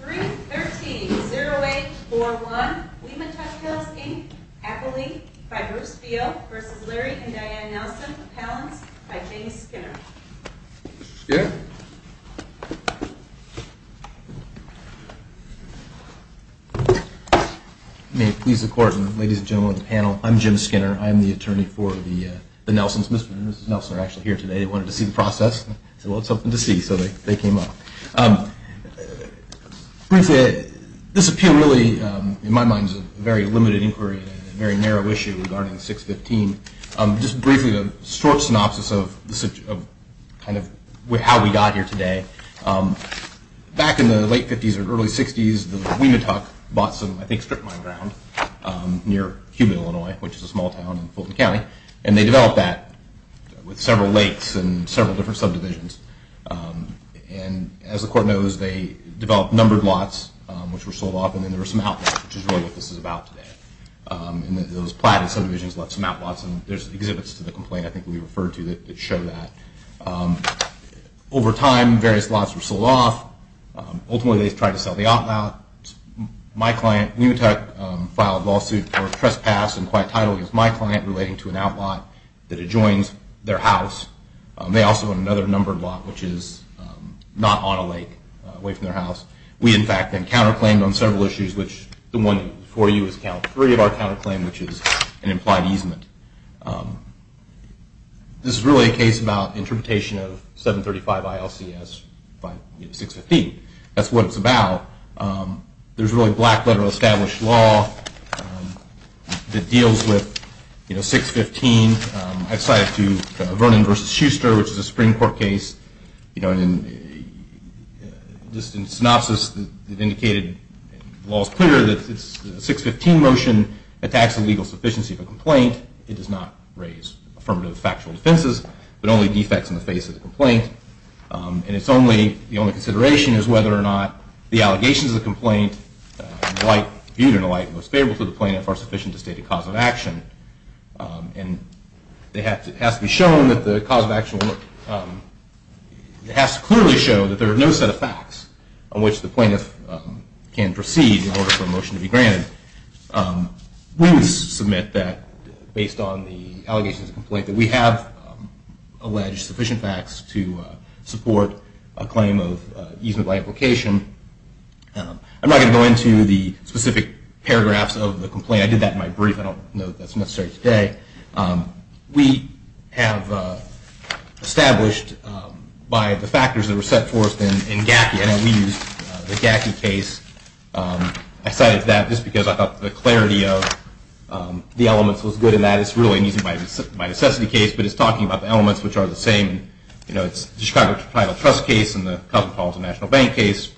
313-0841 Wee-Ma-Tuk Hills, Inc. Appellee by Bruce Field v. Larry and Diane Nelson, Appellants by James Skinner. Mr. Skinner? May it please the Court, ladies and gentlemen of the panel, I'm Jim Skinner. I'm the attorney for the Nelsons. Mr. and Mrs. Nelson are actually here today. They wanted to see the process. They said, well, it's something to see, so they came up. Briefly, this appeal really, in my mind, is a very limited inquiry and a very narrow issue regarding 615. Just briefly, the short synopsis of how we got here today. Back in the late 50s or early 60s, the Wee-Ma-Tuk bought some, I think, strip mine ground near Cuban, Illinois, which is a small town in Fulton County. And they developed that with several lakes and several different subdivisions. And as the Court knows, they developed numbered lots, which were sold off, and then there were some outlots, which is really what this is about today. And those platted subdivisions left some outlots. And there's exhibits to the complaint, I think, we referred to that show that. Over time, various lots were sold off. Ultimately, they tried to sell the outlot. My client, Wee-Ma-Tuk, filed a lawsuit for trespass and quiet title against my client relating to an outlot that adjoins their house. They also want another numbered lot, which is not on a lake away from their house. We, in fact, then counterclaimed on several issues, which the one before you is count three of our counterclaim, which is an implied easement. This is really a case about interpretation of 735 ILCS by 615. That's what it's about. There's really black letter of established law that deals with 615. I cited to Vernon versus Shuster, which is a Supreme Court case. Just in synopsis, it indicated, the law is clear that the 615 motion attacks the legal sufficiency of a complaint. It does not raise affirmative factual defenses, but only defects in the face of the complaint. And the only consideration is whether or not the allegations of the complaint, viewed in a light and most favorable to the plaintiff, are sufficient to state a cause of action. And it has to be shown that the cause of action has to clearly show that there are no set of facts on which the plaintiff can proceed in order for a motion to be granted. We would submit that, based on the allegations of complaint, that we have alleged sufficient facts to support a claim of easement by implication. I'm not going to go into the specific paragraphs of the complaint. I did that in my brief. I don't know if that's necessary today. We have established, by the factors that were set forth in GACI, and we used the GACI case. I cited that just because I thought the clarity of the elements was good in that. It's really an easy by necessity case, but it's talking about the elements which are the same. It's the Chicago Tribal Trust case and the Cosmopolitan National Bank case.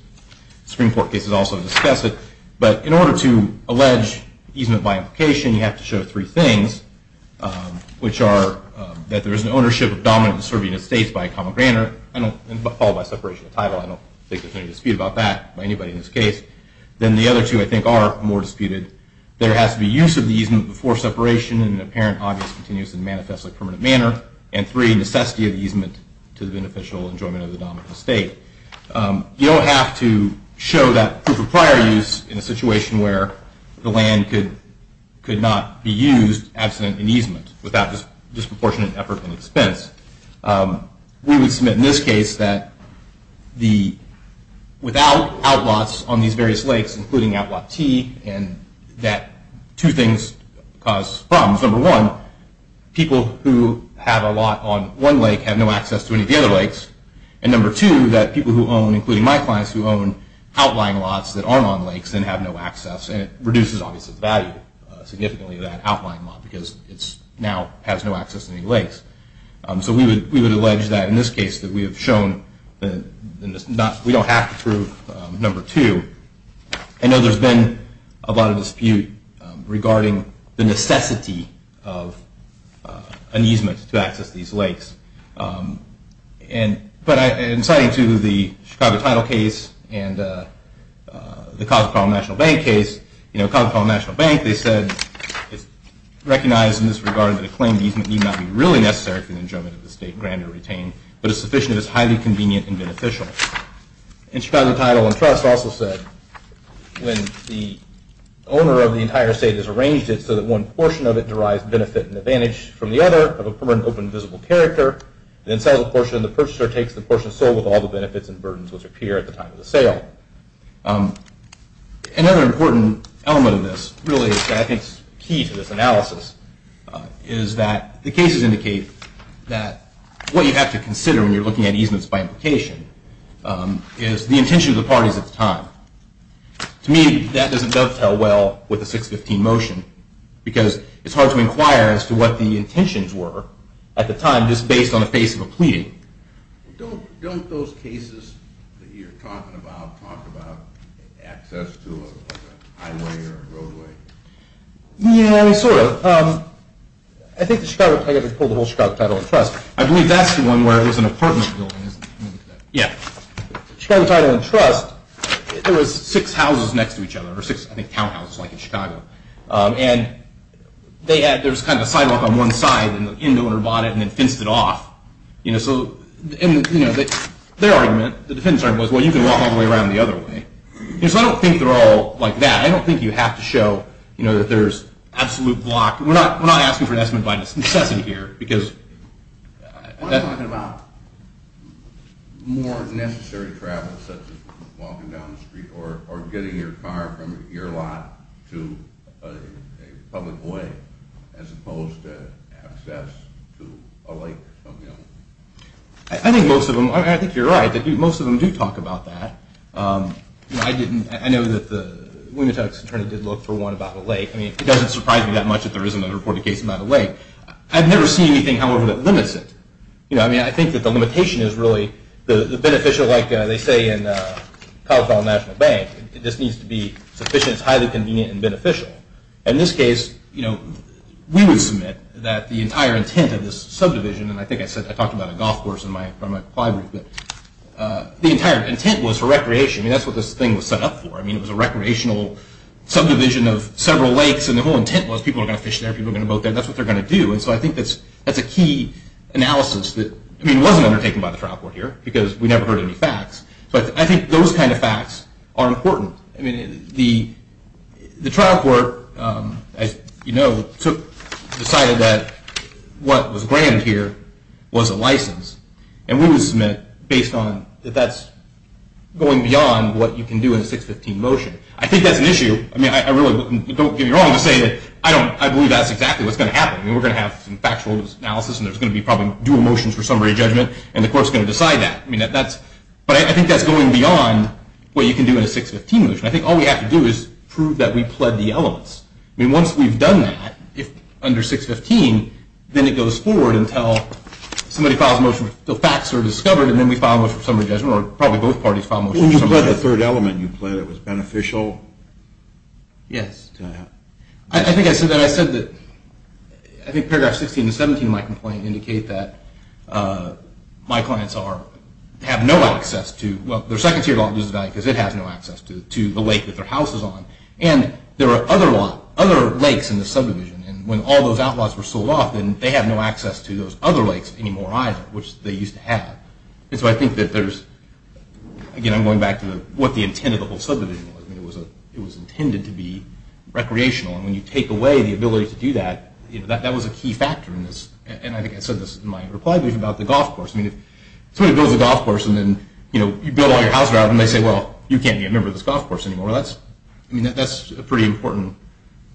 Supreme Court cases also discuss it. But in order to allege easement by implication, you have to show three things, which are that there is an ownership of dominant and subordinate states by a common grandeur, followed by separation of title. I don't think there's any dispute about that by anybody in this case. Then the other two, I think, are more disputed. There has to be use of the easement before separation in an apparent, obvious, continuous, and manifestly permanent manner. And three, necessity of easement to the beneficial enjoyment of the dominant state. You don't have to show that proof of prior use in a situation where the land could not be used absent an easement without disproportionate effort and expense. We would submit in this case that without outlots on these various lakes, including outlot T, and that two things cause problems. Number one, people who have a lot on one lake have no access to any of the other lakes. And number two, that people who own, including my clients, who own outlying lots that aren't on lakes and have no access, and it reduces, obviously, the value significantly of that outlying lot, because it now has no access to any lakes. So we would allege that in this case, that we have shown that we don't have to prove number two. I know there's been a lot of dispute regarding the necessity of an easement to access these lakes. But in citing to the Chicago Tidal case and the College of Colorado National Bank case, College of Colorado National Bank, they said it's recognized in this regard that a claim easement need not be really necessary for the enjoyment of the state granted or retained, but is sufficient if it's highly convenient and beneficial. And Chicago Tidal and Trust also said when the owner of the entire state has arranged it so that one portion of it derives benefit and advantage from the other, of a permanent open and visible character, then sells the portion and the purchaser takes the portion sold with all the benefits and burdens which appear at the time of the sale. Another important element of this, really, I think is key to this analysis, is that the cases indicate that what you have to consider when you're looking at easements by implication is the intention of the parties at the time. To me, that doesn't dovetail well with the 615 motion, because it's hard to inquire as to what the intentions were at the time, just based on the face of a pleading. Don't those cases that you're talking about talk about access to a highway or a roadway? Yeah, sort of. I think the Chicago Tidal and Trust, I believe that's the one where there's an apartment building. Yeah. Chicago Tidal and Trust, there was six houses next to each other, or six townhouses like in Chicago. And there was kind of a sidewalk on one side, and the inn owner bought it and then fenced it off. So their argument, the defendant's argument, was, well, you can walk all the way around the other way. So I don't think they're all like that. I don't think you have to show that there's absolute block. We're not asking for an estimate by necessity here, because that's not going to happen. What are you talking about? More necessary travel, such as walking down the street or getting your car from your lot to a public way, as opposed to access to a lake? I think most of them, I think you're right. Most of them do talk about that. I know that the Winnituck's attorney did look for one about a lake. I mean, it doesn't surprise me that much if there isn't a reported case about a lake. I've never seen anything, however, that limits it. I mean, I think that the limitation is really the beneficial, like they say in the Colorado National Bank. It just needs to be sufficient, highly convenient, and beneficial. In this case, we would submit that the entire intent of this subdivision, and I think I talked about a golf course in my client group, but the entire intent was for recreation. I mean, that's what this thing was set up for. I mean, it was a recreational subdivision of several lakes, and the whole intent was people are going to fish there, people are going to boat there. That's what they're going to do. And so I think that's a key analysis that, I mean, wasn't undertaken by the trial court here, because we never heard any facts. But I think those kind of facts are important. I mean, the trial court, as you know, decided that what was granted here was a license, and we would submit based on that that's going beyond what you can do in a 615 motion. I think that's an issue. I mean, I really don't give you wrong to say that I believe that's exactly what's going to happen. I mean, we're going to have some factual analysis, and there's going to be probably dual motions for summary judgment, and the court's going to decide that. But I think that's going beyond what you can do in a 615 motion. I think all we have to do is prove that we pled the elements. I mean, once we've done that under 615, then it goes forward until somebody files a motion, the facts are discovered, and then we file a motion for summary judgment, or probably both parties file a motion for summary judgment. When you pled the third element, you pled it was beneficial? Yes. I think I said that I said that I think paragraph 16 and 17 of my complaint indicate that my clients have no access to, well, their second tier lot loses value because it has no access to the lake that their house is on. And there are other lakes in the subdivision. And when all those outlaws were sold off, then they have no access to those other lakes anymore either, which they used to have. And so I think that there's, again, I'm going back to what the intent of the whole subdivision was. It was intended to be recreational. And when you take away the ability to do that, that was a key factor in this. And I think I said this in my reply brief about the golf course. I mean, if somebody builds a golf course, and then you build all your house around it, and they say, well, you can't be a member of this golf course anymore, well, that's a pretty important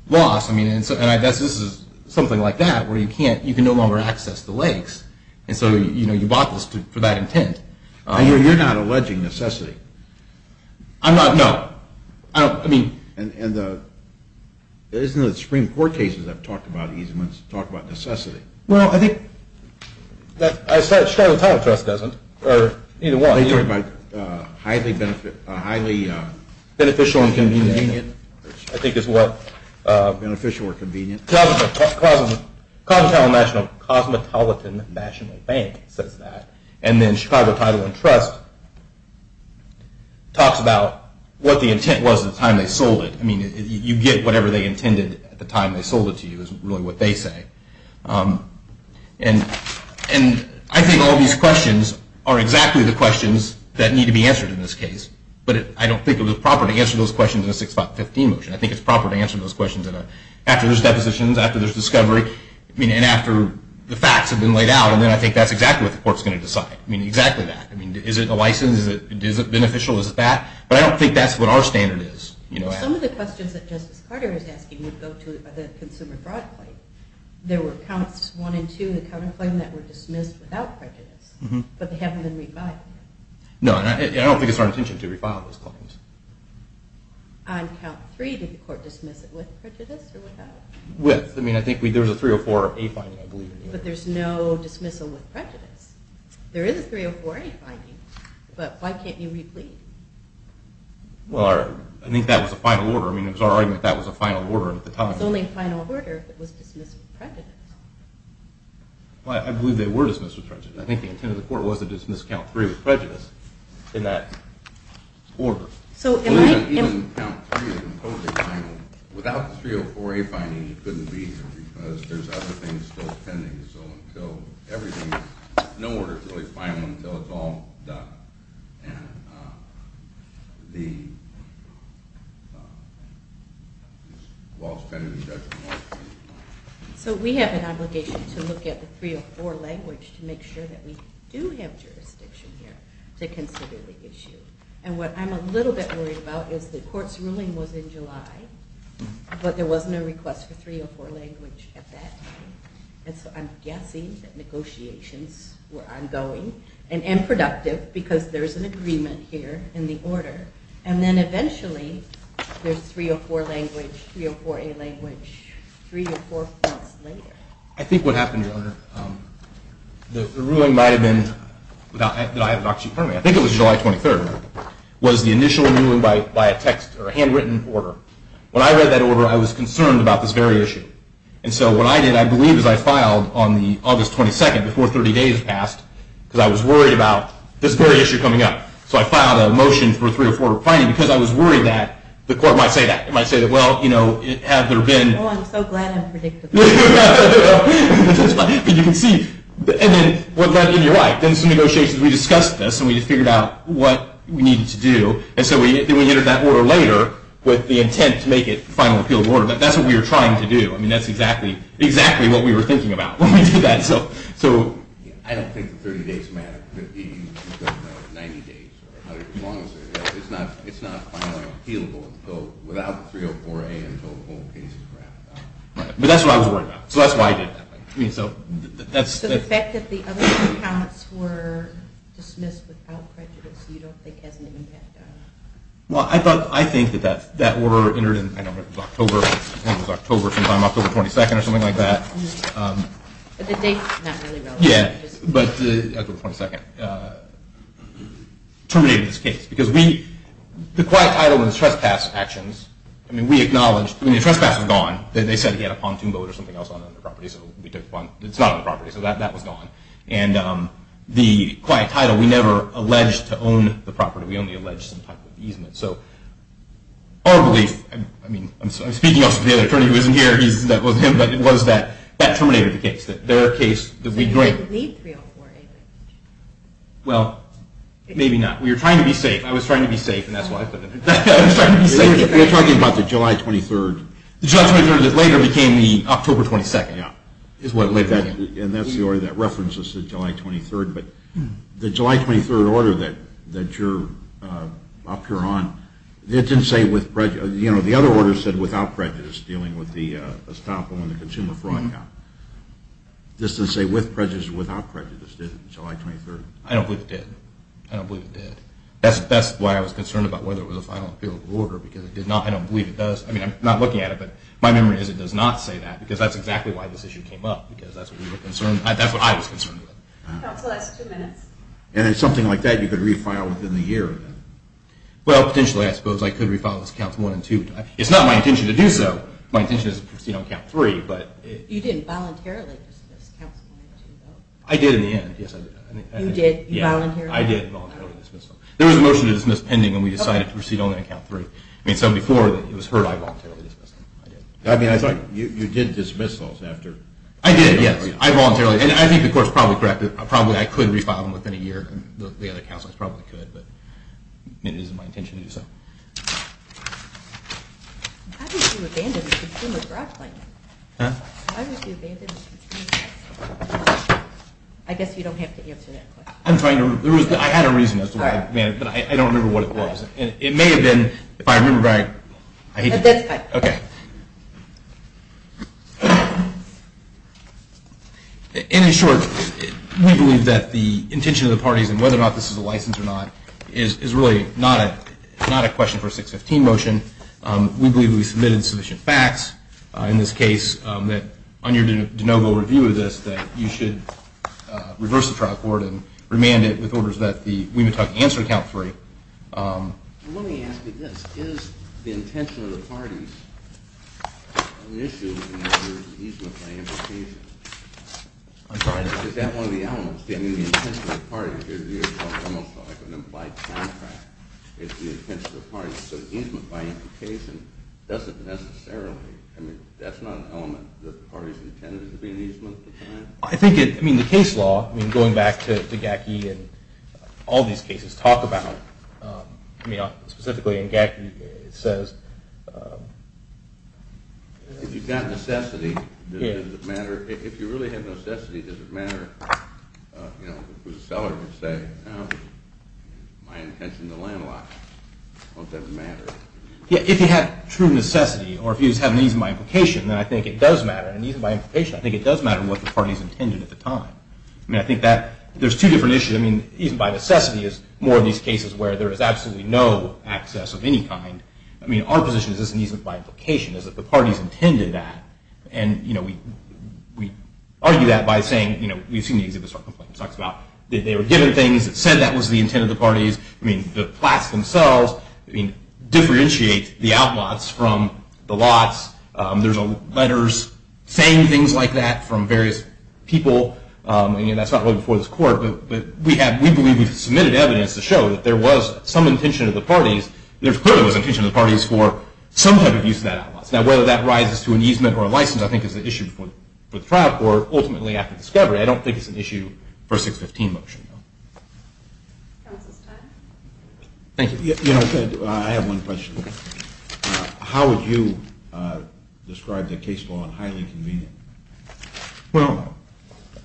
loss. I mean, and this is something like that, where you can't, you can no longer access the lakes. And so you bought this for that intent. And you're not alleging necessity? I'm not, no. I don't, I mean. And the, isn't it the Supreme Court cases that have talked about easements talk about necessity? Well, I think that, I said, Chicago Title Trust doesn't, or either one. They talk about highly beneficial and convenient. I think is what. Beneficial or convenient. Comptown National, Cosmetolitan National Bank says that. And then Chicago Title and Trust talks about what the intent was at the time they sold it. I mean, you get whatever they intended at the time they sold it to you, is really what they say. And I think all these questions are exactly the questions that need to be answered in this case. But I don't think it was proper to answer those questions in a 6.15 motion. I think it's proper to answer those questions after there's depositions, after there's discovery, I mean, and after the facts have been laid out. And then I think that's exactly what the court's going to decide. I mean, exactly that. I mean, is it a license? Is it beneficial? Is it that? But I don't think that's what our standard is. Some of the questions that Justice Carter is asking would go to the consumer fraud claim. There were counts one and two in the counterclaim that were dismissed without prejudice. But they haven't been re-filed yet. No, and I don't think it's our intention to re-file those claims. On count three, did the court dismiss it with prejudice or without? With. I mean, I think there was a 304A finding, I believe. But there's no dismissal with prejudice. There is a 304A finding. But why can't you re-plead? Well, I think that was a final order. I mean, it was our argument that was a final order at the time. It's only a final order if it was dismissed with prejudice. Well, I believe they were dismissed with prejudice. I think the intent of the court was to dismiss count three with prejudice in that order. So in my opinion, count three is totally final. Without the 304A finding, you couldn't be here. Because there's other things still pending. So until everything is, no order is really final until it's all done. And the law's pending. That's the law. So we have an obligation to look at the 304 language to make sure that we do have jurisdiction here to consider the issue. And what I'm a little bit worried about is the court's ruling was in July. But there was no request for 304 language at that time. And so I'm guessing that negotiations were ongoing and unproductive. Because there is an agreement here in the order. And then eventually, there's 304 language, 304A language, three or four months later. I think what happened, Your Honor, the ruling might have been that I have it actually in front of me. I think it was July 23rd was the initial ruling by a text or a handwritten order. When I read that order, I was concerned about this very issue. And so what I did, I believe, is I filed on the August 22 before 30 days passed, because I was worried about this very issue coming up. So I filed a motion for a 304 replying, because I was worried that the court might say that. It might say that, well, you know, have there been. Oh, I'm so glad I'm predictable. But you can see, and then what led in your right. Then some negotiations, we discussed this. And we just figured out what we needed to do. And so we entered that order later with the intent to make it a final appeal order. That's what we were trying to do. I mean, that's exactly what we were thinking about when we did that. So I don't think the 30 days matter. It could be 90 days or 100 days, as long as they're there. It's not finally appealable without the 304A until the whole case is wrapped up. But that's what I was worried about. So that's why I did it that way. I mean, so that's the fact that the other compounds were dismissed without prejudice, you don't think, has an impact on it? Well, I think that that order entered in, I don't know, it was October. I think it was October sometime, October 22nd, or something like that. But the date's not really relevant. Yeah, but the October 22nd terminated this case. Because the quiet title and the trespass actions, I mean, we acknowledged when the trespass was gone that they said he had a pontoon boat or something else on the property. So we took the pontoon boat. It's not on the property. So that was gone. And the quiet title, we never alleged to own the property. We only alleged some type of easement. So our belief, I mean, I'm speaking also to the other attorney who isn't here. That wasn't him. But it was that that terminated the case, that their case would be great. So you didn't need 304A, did you? Well, maybe not. We were trying to be safe. I was trying to be safe. And that's why I put it in. I was trying to be safe. We were talking about the July 23rd. The July 23rd that later became the October 22nd. And that's the order that references the July 23rd. But the July 23rd order that you're up here on, it didn't say with prejudice. The other order said without prejudice, dealing with the estoppel and the consumer fraud count. It didn't say with prejudice or without prejudice, did it, the July 23rd? I don't believe it did. I don't believe it did. That's why I was concerned about whether it was a final appeal of the order. Because it did not. I don't believe it does. I mean, I'm not looking at it. But my memory is it does not say that. Because that's exactly why this issue came up. Because that's what we were concerned. That's what I was concerned with. Counsel, that's two minutes. And something like that, you could refile within the year, then? Well, potentially, I suppose I could refile this count one and two. It's not my intention to do so. My intention is to proceed on count three. You didn't voluntarily dismiss counsel on the two votes? I did in the end, yes. You did? You voluntarily? I did voluntarily dismiss them. There was a motion to dismiss pending when we decided to proceed only on count three. I mean, so before, it was heard I voluntarily dismissed them. I mean, I thought you did dismiss those after. I did, yes. I voluntarily. And I think the court's probably correct. Probably, I could refile them within a year. The other counsels probably could. But it isn't my intention to do so. How did you abandon the consumer's right claim? Huh? How did you abandon the consumer's right claim? I guess you don't have to answer that question. I had a reason as to why I abandoned it, but I don't remember what it was. It may have been, if I remember right, I hate to do it. That's fine. OK. In short, we believe that the intention of the parties, and whether or not this is a license or not, is really not a question for a 615 motion. We believe we submitted sufficient facts in this case that, on your de novo review of this, that you should reverse the trial court and remand it with orders that the Wiemann-Tuck answer to count three. Let me ask you this. Is the intention of the parties an issue in your easement by implication? I'm sorry. Is that one of the elements? I mean, the intention of the parties is almost like an implied contract. It's the intention of the parties. So easement by implication doesn't necessarily, I mean, that's not an element that the parties intended to be an easement at the time? I think it, I mean, the case law, I mean, going back to Gacky and all these cases, talk about, I mean, specifically in Gacky, it says, If you've got necessity, does it matter? If you really have necessity, does it matter? You know, if it was a seller, you'd say, no, my intention to landlocked, won't that matter? Yeah, if you have true necessity or if you just have an easement by implication, then I think it does matter. And easement by implication, I think it does matter what the parties intended at the time. I mean, I think that there's two different issues. I mean, easement by necessity is more in these cases where there is absolutely no access of any kind. I mean, our position is this is an easement by implication, is that the parties intended that. And we argue that by saying, you know, we've seen the Exhibit Start complaint. It talks about that they were given things that said that was the intent of the parties. I mean, the plats themselves differentiate the outlots from the lots. There's letters saying things like that from various people. I mean, that's not really before this court. But we have, we believe we've submitted evidence to show that there was some intention of the parties. There clearly was intention of the parties for some type of use of that outlot. Now, whether that rises to an easement or a license, I think is the issue for the trial court, ultimately after discovery. I don't think it's an issue for a 615 motion, though. Counsel's time. Thank you. I have one question. How would you describe the case law in highly convenient? Well,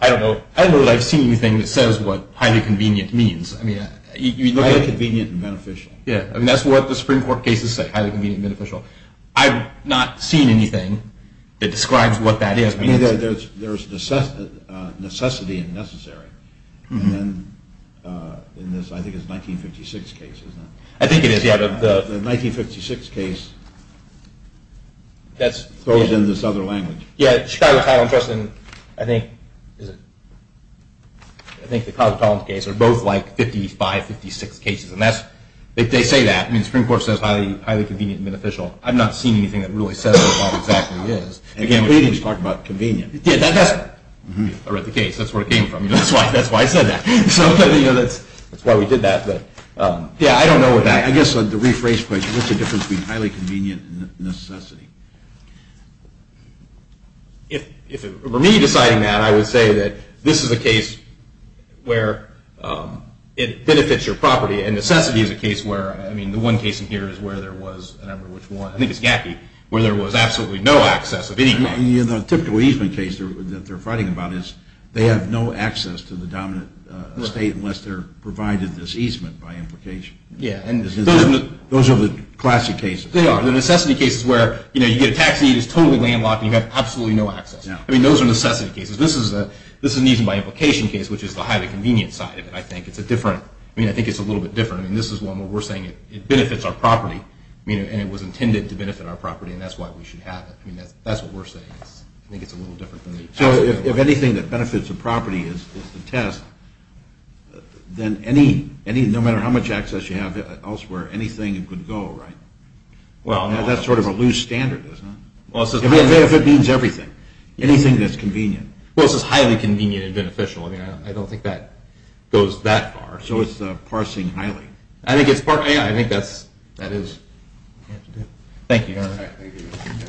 I don't know. I don't know that I've seen anything that says what highly convenient means. I mean, you look at it. Highly convenient and beneficial. Yeah, I mean, that's what the Supreme Court cases say, highly convenient and beneficial. I've not seen anything that describes what that is. I mean, there's necessity and necessary. And in this, I think it's 1956 case, isn't it? I think it is, yeah. The 1956 case throws in this other language. Yeah, Chicago Trial and Trust, and I think the College of Tolerance case are both like 55, 56 cases. And that's, they say that. I mean, the Supreme Court says highly convenient and beneficial. I've not seen anything that really says what exactly it is. Again, we're talking about convenient. Yeah, that's the case. That's where it came from. That's why I said that. So that's why we did that. Yeah, I don't know what that. I guess the rephrase question, what's the difference between highly convenient and necessity? If it were me deciding that, I would say that this is a case where it benefits your property. And necessity is a case where, I mean, the one case in here is where there was, and I don't know which one, I think it's Gacky, where there was absolutely no access of any kind. Yeah, the typical easement case that they're fighting about is they have no access to the dominant state unless they're provided this easement by implication. Yeah. Those are the classic cases. They are. The necessity case is where you get a taxi, it's totally landlocked, and you have absolutely no access. I mean, those are necessity cases. This is an easement by implication case, which is the highly convenient side of it, I think. It's a different, I mean, I think it's a little bit different. I mean, this is one where we're saying it benefits our property, and it was intended to benefit our property, and that's why we should have it. I mean, that's what we're saying. I think it's a little different than the other. So if anything that benefits a property is the test, then no matter how much access you have elsewhere, anything could go, right? Well, no. That's sort of a loose standard, isn't it? Well, it says highly. Benefit means everything. Anything that's convenient. Well, it says highly convenient and beneficial. I mean, I don't think that goes that far. So it's parsing highly. Yeah, I think that is what you have to do. Thank you, Your Honor. All right. Thank you, Your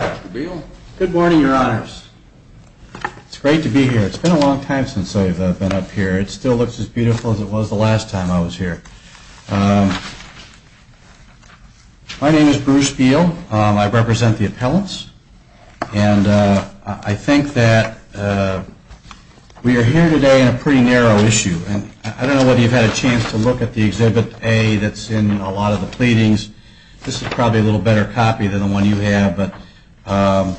Honor. Mr. Beal? Good morning, Your Honors. It's great to be here. It's been a long time since I've been up here. It still looks as beautiful as it was the last time I was here. My name is Bruce Beal. I represent the appellants. And I think that we are here today on a pretty narrow issue. And I don't know whether you've had a chance to look at the Exhibit A that's in a lot of the pleadings. This is probably a little better copy than the one you have. But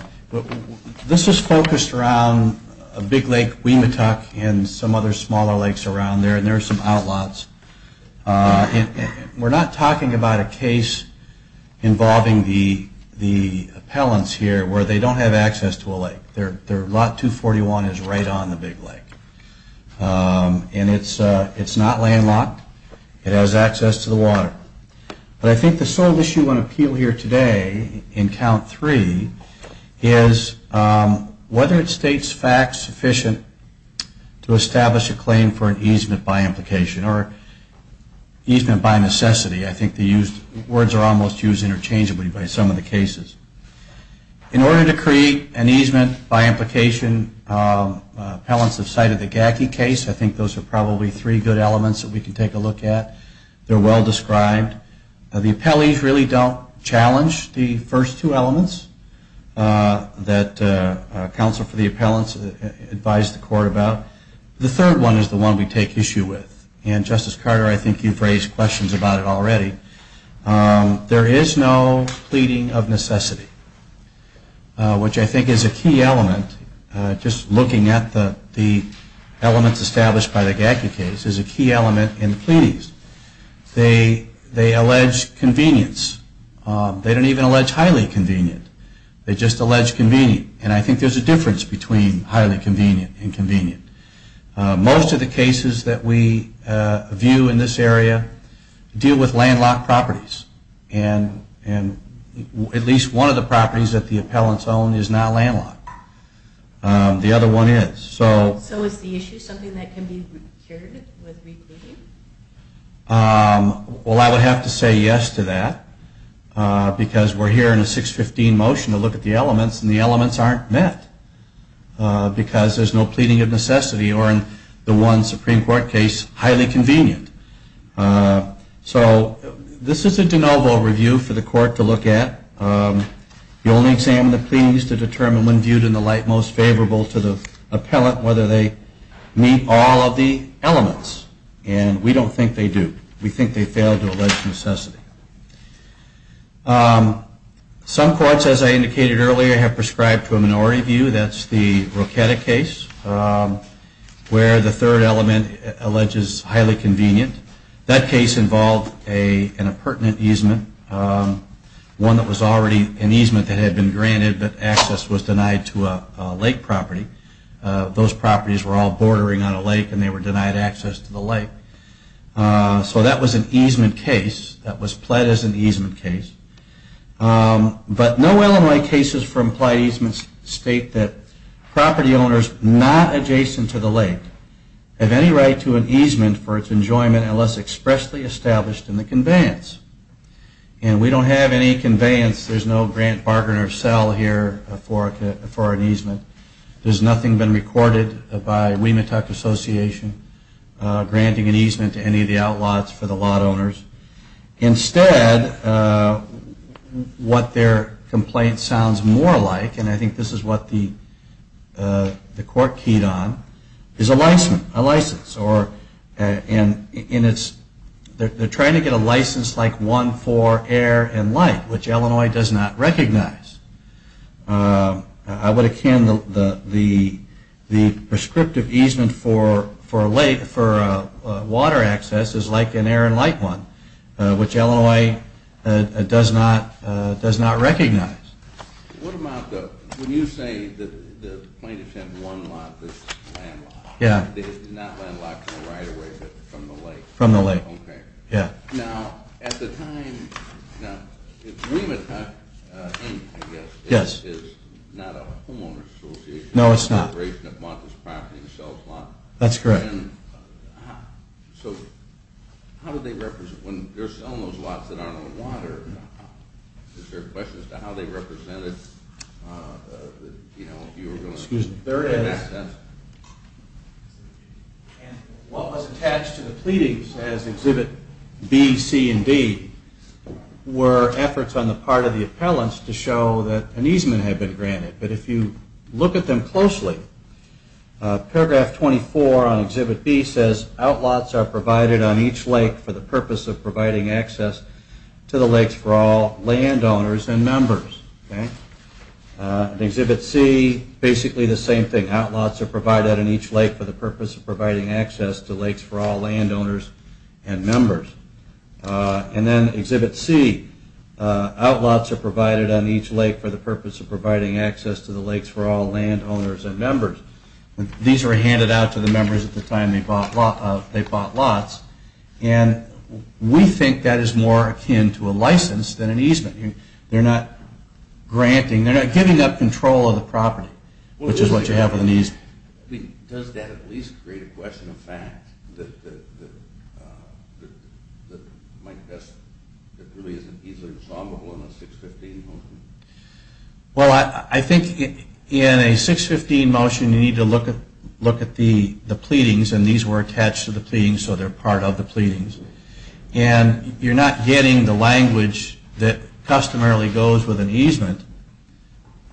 this is focused around a big lake, Wematuck, and some other smaller lakes around there. And there are some outlaws. And we're not talking about a case involving the appellants here where they don't have access to a lake. Their lot 241 is right on the big lake. And it's not landlocked. It has access to the water. But I think the sole issue on appeal here today in count 3 is whether it states facts sufficient to establish a claim for an easement by implication or easement by necessity. I think the words are almost used interchangeably by some of the cases. In order to create an easement by implication, appellants have cited the Gacky case. I think those are probably three good elements that we can take a look at. They're well described. The appellees really don't challenge the first two elements that counsel for the appellants advise the court about. The third one is the one we take issue with. And Justice Carter, I think you've raised questions about it already. There is no pleading of necessity, which I think is a key element. Just looking at the elements established by the Gacky case is a key element in the pleadings. They allege convenience. They don't even allege highly convenient. They just allege convenient. And I think there's a difference between highly convenient and convenient. Most of the cases that we view in this area deal with landlocked properties. And at least one of the properties that the appellants own is not landlocked. The other one is. So is the issue something that can be cured with repleading? Well, I would have to say yes to that, because we're here in a 615 motion to look at the elements. And the elements aren't met, because there's no pleading of necessity, or in the one Supreme Court case, highly convenient. So this is a de novo review for the court to look at. You only examine the pleadings to determine when viewed in the light most favorable to the appellant, whether they meet all of the elements. And we don't think they do. We think they fail to allege necessity. Some courts, as I indicated earlier, have prescribed to a minority view. That's the Rocchetti case, where the third element alleges highly convenient. That case involved a pertinent easement, one that was already an easement that had been granted, but access was denied to a lake property. Those properties were all bordering on a lake, and they were denied access to the lake. So that was an easement case. That was pled as an easement case. But no Illinois cases for implied easements state that property owners not adjacent to the lake have any right to an easement for its enjoyment unless expressly established in the conveyance. And we don't have any conveyance. There's no grant, bargain, or sell here for an easement. There's nothing been recorded by Weematuck Association granting an easement to any of the outlaws for the lot owners. Instead, what their complaint sounds more like, and I think this is what the court keyed on, is a license. Or they're trying to get a license like one for air and light, which Illinois does not recognize. I would akin the prescriptive easement for water access as like an air and light one, which Illinois does not recognize. What about the, when you say the plaintiff had one lot that's landlocked, not landlocked right away, but from the lake. From the lake, yeah. Now, at the time, now, Weematuck Inc, I guess, is not a homeowner's association. No, it's not. It's a corporation that bought this property and sells a lot. That's correct. So how would they represent, when they're selling those lots that aren't on water, is there a question as to how they represented that you were going to get access? There is. What was attached to the pleadings as exhibit B, C, and D were efforts on the part of the appellants to show that an easement had been granted. But if you look at them closely, paragraph 24 on exhibit B says, outlots are provided on each lake for the purpose of providing access to the lakes for all landowners. And exhibit C, basically the same thing. Outlots are provided on each lake for the purpose of providing access to lakes for all landowners and members. And then exhibit C, outlots are provided on each lake for the purpose of providing access to the lakes for all landowners and members. These were handed out to the members at the time they bought lots. And we think that is more akin to a license than an easement. They're not granting, they're not giving up control of the property, which is what you have with an easement. Does that at least create a question of fact that really isn't easily resolvable in a 615 motion? Well, I think in a 615 motion, you need to look at the pleadings. And these were attached to the pleadings, so they're part of the pleadings. And you're not getting the language that customarily goes with an easement,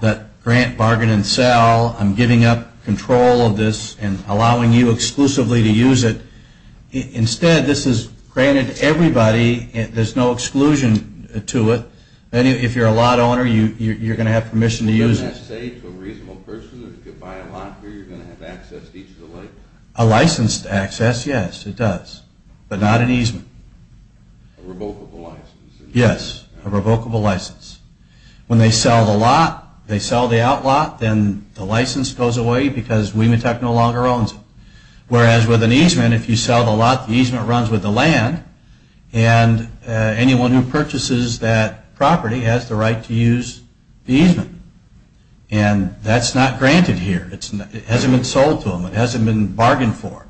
that grant, bargain, and sell. I'm giving up control of this and allowing you exclusively to use it. Instead, this is granted to everybody. There's no exclusion to it. If you're a lot owner, you're going to have permission to use it. Wouldn't that say to a reasonable person that if you buy a lot here, you're going to have access to each of the lakes? A licensed access, yes, it does. But not an easement. A revocable license. Yes, a revocable license. When they sell the lot, they sell the outlot, then the license goes away because WEMITEC no longer owns it. Whereas with an easement, if you sell the lot, the easement runs with the land. And anyone who purchases that property has the right to use the easement. And that's not granted here. It hasn't been sold to them. It hasn't been bargained for.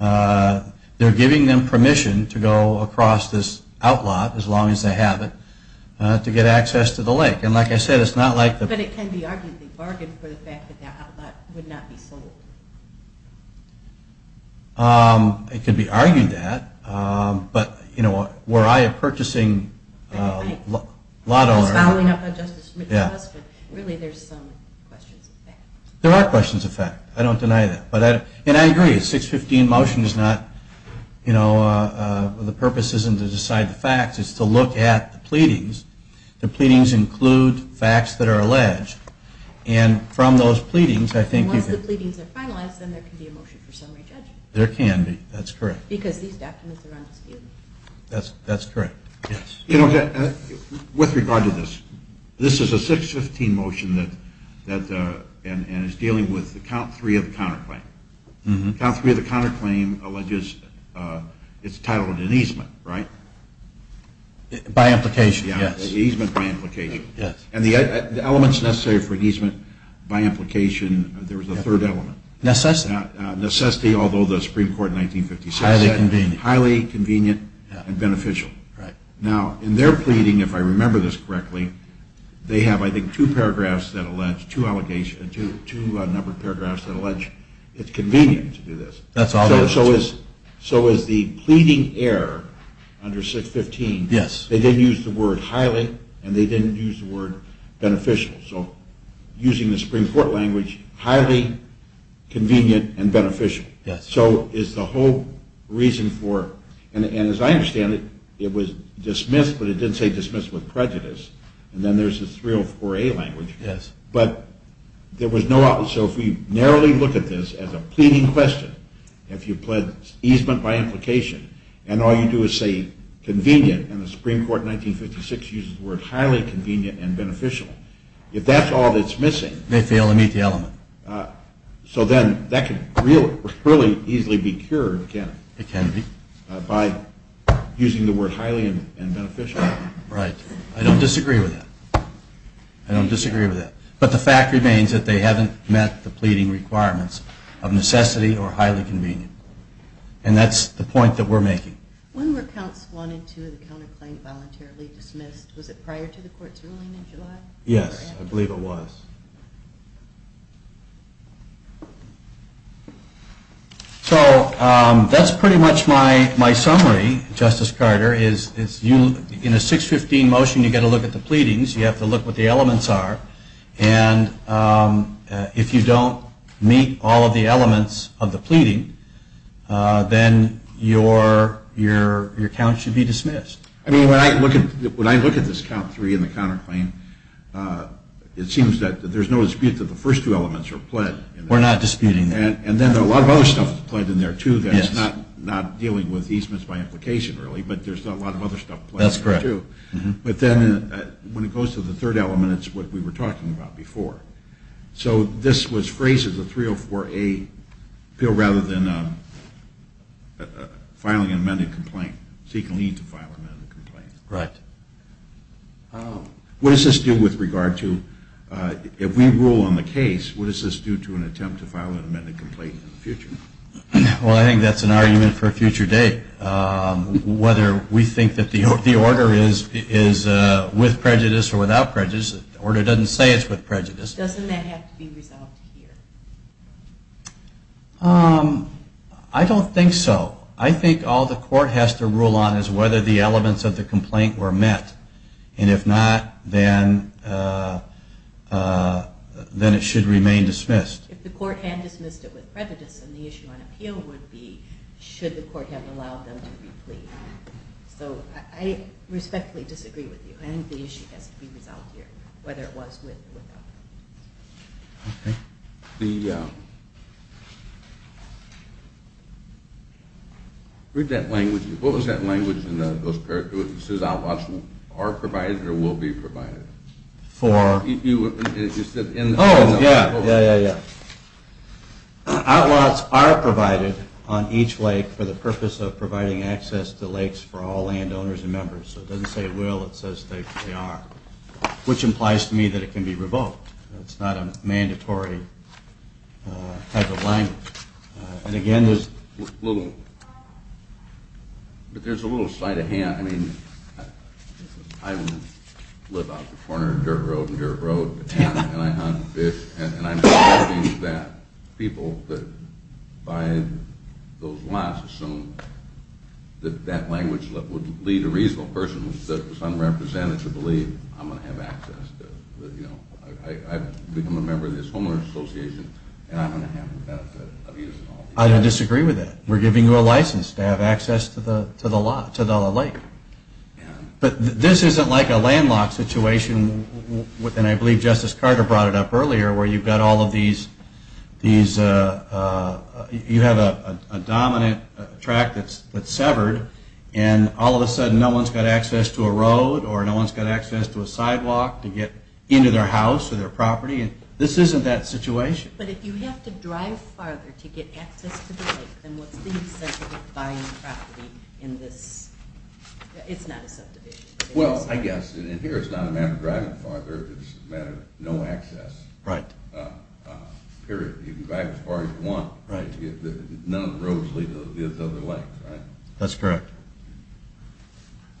They're giving them permission to go across this outlot, as long as they have it, to get access to the lake. And like I said, it's not like the- But it can be argued that they bargained for the fact that their outlot would not be sold. It could be argued that. But were I a purchasing lot owner- Following up on Justice Mitchell's question, really there's some questions of fact. There are questions of fact. I don't deny that. And I agree, a 615 motion is not, the purpose isn't to decide the facts. It's to look at the pleadings. The pleadings include facts that are alleged. And from those pleadings, I think you can- And once the pleadings are finalized, then there can be a motion for summary judgment. There can be. That's correct. Because these documents are on dispute. That's correct. With regard to this, this is a 615 motion that is dealing with the count three of the counterclaim. Count three of the counterclaim alleges it's titled an easement, right? By implication, yes. The easement by implication. And the elements necessary for easement by implication, there was a third element. Necessity. Necessity, although the Supreme Court in 1956- Highly convenient. Highly convenient and beneficial. Now, in their pleading, if I remember this correctly, they have, I think, two paragraphs that allege, two allegations, two numbered paragraphs that allege it's convenient to do this. That's all there is to it. So is the pleading error under 615, they didn't use the word highly, and they didn't use the word beneficial. So using the Supreme Court language, highly convenient and beneficial. So is the whole reason for, and as I understand it, it was dismissed, but it didn't say dismissed with prejudice. And then there's this 304A language. But there was no, so if we narrowly look at this as a pleading question, if you pled easement by implication, and all you do is say convenient, and the Supreme Court in 1956 uses the word highly convenient and beneficial, if that's all that's missing- They fail to meet the element. So then that can really easily be cured, can't it? It can be. By using the word highly and beneficial. Right. I don't disagree with that. I don't disagree with that. But the fact remains that they haven't met the pleading requirements of necessity or highly convenient. And that's the point that we're making. When were counts one and two of the counterclaim voluntarily dismissed? Was it prior to the court's ruling in July? Yes, I believe it was. So that's pretty much my summary, Justice Carter. In a 615 motion, you've got to look at the pleadings. You have to look what the elements are. And if you don't meet all of the elements of the pleading, then your count should be dismissed. I mean, when I look at this count three in the counterclaim, it seems that there's no dispute that the first two elements are pled. We're not disputing that. And then a lot of other stuff is pled in there, too, that's not dealing with easements by implication, really, but there's a lot of other stuff pledged, too. That's correct. But then when it goes to the third element, it's what we were talking about before. So this was phrased as a 304A appeal rather than filing an amended complaint, seeking to file an amended complaint. Right. What does this do with regard to, if we rule on the case, what does this do to an attempt to file an amended complaint in the future? Well, I think that's an argument for a future date. Whether we think that the order is with prejudice or without prejudice, the order doesn't say it's with prejudice. Doesn't that have to be resolved here? I don't think so. I think all the court has to rule on is whether the elements of the complaint were met. And if not, then it should remain dismissed. If the court had dismissed it with prejudice, then the issue on appeal would be, should the court have allowed them to re-plead. So I respectfully disagree with you. I think the issue has to be resolved here, whether it was with or without prejudice. OK. Read that language. What was that language in those paragraphs? It says, outlaws are provided or will be provided. For? You said in those paragraphs. Oh, yeah. Yeah, yeah, yeah. Outlaws are provided on each lake for the purpose of providing access to lakes for all landowners and members. So it doesn't say will. It says they are, which implies to me that it can be revoked. It's not a mandatory type of language. And again, there's a little slight of hand. I mean, I live out the corner of Dirt Road and Dirt Road, and I hunt fish, and I'm hoping that people that buy those lots assume that that language would lead a reasonable person that's unrepresented to believe, I'm going to have access to, you know, I've become a member of this homeowner's association, and I'm going to have the benefit of using all these. I don't disagree with that. We're giving you a license to have access to the lake. But this isn't like a landlocked situation, and I believe Justice Carter brought it up earlier, where you've got all of these, you have a dominant track that's severed, and all of a sudden, no one's got access to a road, or no one's got access to a sidewalk to get into their house or their property. This isn't that situation. But if you have to drive farther to get access to the lake, then what's the incentive of buying property in this? It's not a subdivision. Well, I guess, and here, it's not a matter of driving farther. It's a matter of no access. Right. Period. You can drive as far as you want. Right. None of the roads lead to the other lakes, right? That's correct.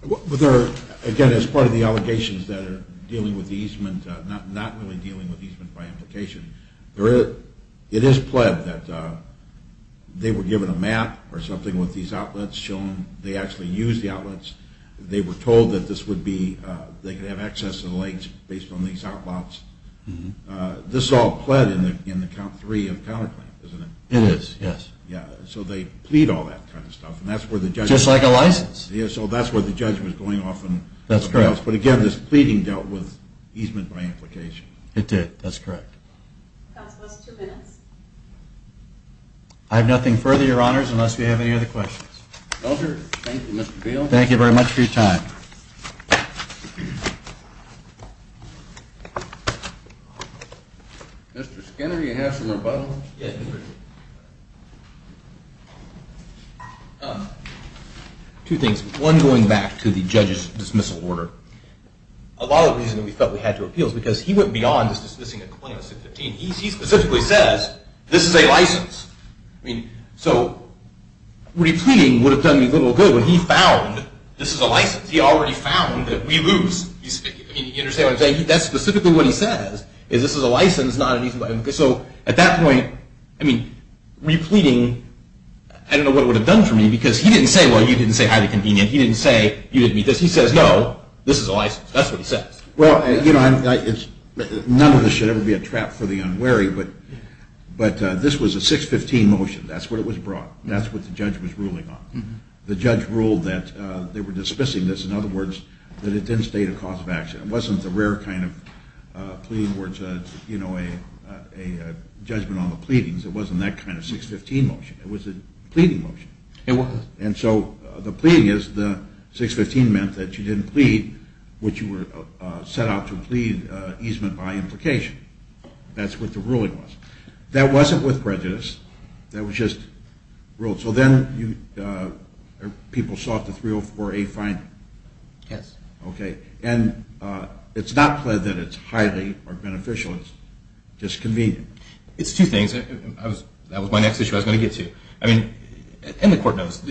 But there are, again, as part of the allegations that are dealing with the Eastman, not really dealing with Eastman by implication, it is pled that they were given a map or something with these outlets showing they actually use the outlets. They were told that this would be, they could have access to the lakes based on these outlets. This all pled in the count three of counterclaim, isn't it? It is, yes. Yeah. So they plead all that kind of stuff. And that's where the judge was going off on something else. But again, this pleading dealt with Eastman by implication. It did. That's correct. Counsel, that's two minutes. I have nothing further, Your Honors, unless you have any other questions. No, sir. Thank you, Mr. Beal. Thank you very much for your time. Mr. Skinner, do you have some rebuttals? Yes, sir. Two things. One, going back to the judge's dismissal order, a lot of the reason that we felt we had to appeal is because he went beyond just dismissing a complaint on 615. He specifically says, this is a license. So repleading would have done me little good when he found this is a license. He already found that we lose. I mean, you understand what I'm saying? That's specifically what he says, is this is a license, not an Eastman. So at that point, I mean, repleading, I don't know what it would have done for me. Because he didn't say, well, you didn't say highly convenient. He didn't say, you didn't meet this. He says, no, this is a license. That's what he says. Well, you know, none of this should ever be a trap for the unwary. But this was a 615 motion. That's what it was brought. That's what the judge was ruling on. The judge ruled that they were dismissing this. In other words, that it didn't state a cause of action. It wasn't the rare kind of plea where it's a judgment on the pleadings. It wasn't that kind of 615 motion. It was a pleading motion. It was. And so the pleading is the 615 meant that you didn't plead, which you were set out to plead easement by implication. That's what the ruling was. That wasn't with prejudice. That was just ruled. So then people sought the 304A finding. Yes. OK. And it's not pled that it's highly or beneficially disconvenient. It's two things. That was my next issue I was going to get to. And the court knows.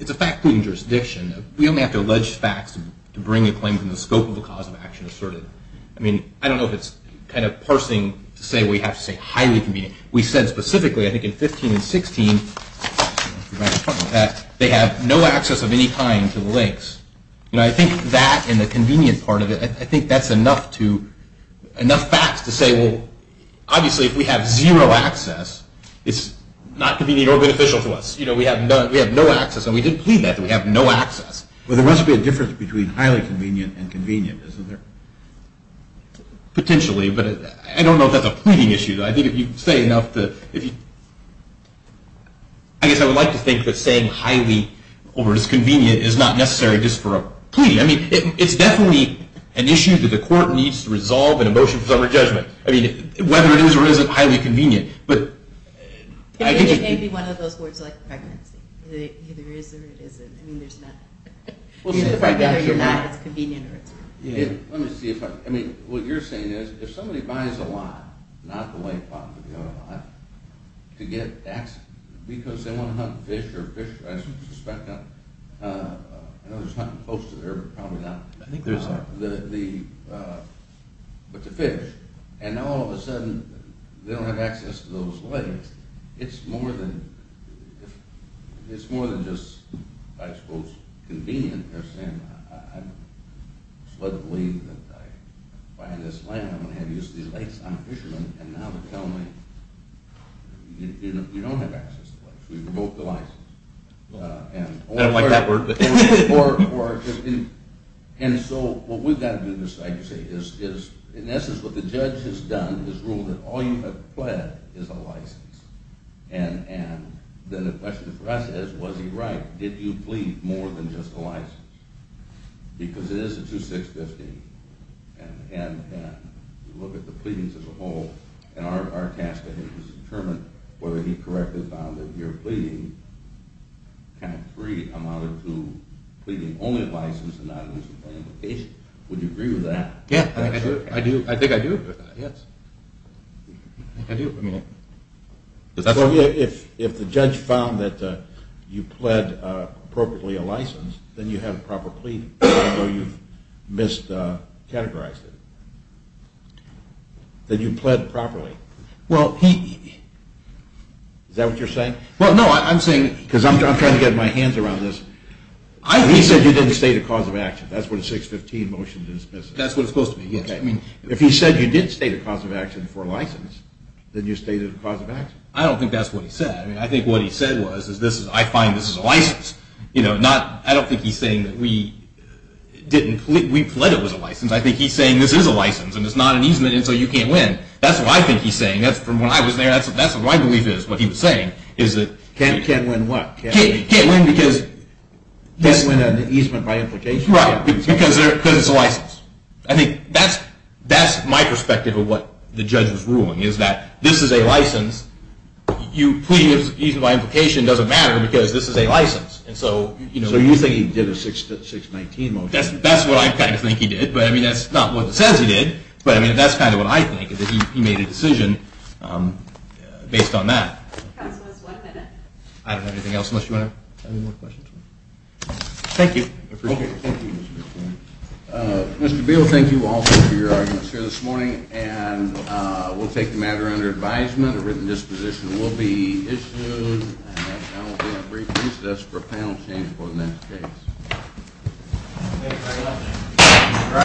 It's a fact pleading jurisdiction. We only have to allege facts to bring a claim to the scope of a cause of action asserted. I mean, I don't know if it's kind of parsing to say we have to say highly convenient. We said specifically, I think, in 15 and 16, they have no access of any kind to the lakes. I think that and the convenient part of it, I think that's enough facts to say, well, obviously, if we have zero access, it's not convenient or beneficial to us. We have no access. And we didn't plead that. We have no access. Well, there must be a difference between highly convenient and convenient, isn't there? Potentially, but I don't know if that's a pleading issue. I think if you say enough that if you I guess I would like to think that saying highly or is convenient is not necessary just for a plea. I mean, it's definitely an issue that the court needs to resolve in a motion for summary judgment. I mean, whether it is or isn't highly convenient. But I think it could be one of those words like pregnancy. It either is or it isn't. I mean, there's not. Either it's pregnant or it's not, it's convenient or it's not. Let me see if I'm, I mean, what you're saying is if somebody buys a lot, not the lake bottom, to get access, because they want to hunt fish or fish, I suspect, I know there's nothing close to the river, probably not, but the fish, and now all of a sudden they don't have access to those lakes, it's more than just, I suppose, convenient. You're saying, I'm slovenly that I buy this land, I'm going to have use of these lakes, I'm a fisherman, and now they're telling me, you don't have access to lakes. We revoked the license. I don't like that word. And so what we've got to do, like you say, is in essence what the judge has done is ruled that all you have pled is a license. And then the question for us is, was he right? Did you plead more than just a license? Because it is a 2650, and you look at the pleadings as a whole, and our task is to determine whether he correctly found that you're pleading kind of three amounted to pleading only a license and not losing any location. Would you agree with that? Yeah, I do. I think I do, yes. I do, I mean, because that's what we're doing. If the judge found that you pled appropriately a license, then you have a proper pleading, even though you've miscategorized it. Then you pled properly. Well, he- Is that what you're saying? Well, no, I'm saying- Because I'm trying to get my hands around this. He said you didn't state a cause of action. That's what a 615 motion dismisses. That's what it's supposed to be, yes. If he said you did state a cause of action for a license, then you stated a cause of action. I don't think that's what he said. I think what he said was, I find this is a license. I don't think he's saying that we pled it was a license. I think he's saying this is a license, and it's not an easement, and so you can't win. That's what I think he's saying. That's from when I was there. That's what my belief is, what he was saying, is that- Can't win what? Can't win because- Can't win an easement by implication? Right, because it's a license. I think that's my perspective of what the judge was ruling, is that this is a license. You pleading an easement by implication doesn't matter, because this is a license. And so you know- So you think he did a 619 motion? That's what I kind of think he did, but I mean, that's not what it says he did. But I mean, that's kind of what I think, is that he made a decision based on that. Counsel, there's one minute. I don't have anything else, unless you want to add any more questions. Thank you. I appreciate it. Thank you, Mr. Beal. Mr. Beal, thank you all for your arguments here this morning, and we'll take the matter under advisement. A written disposition will be issued, and that's gonna be a brief recess for panel change for the next case. All right.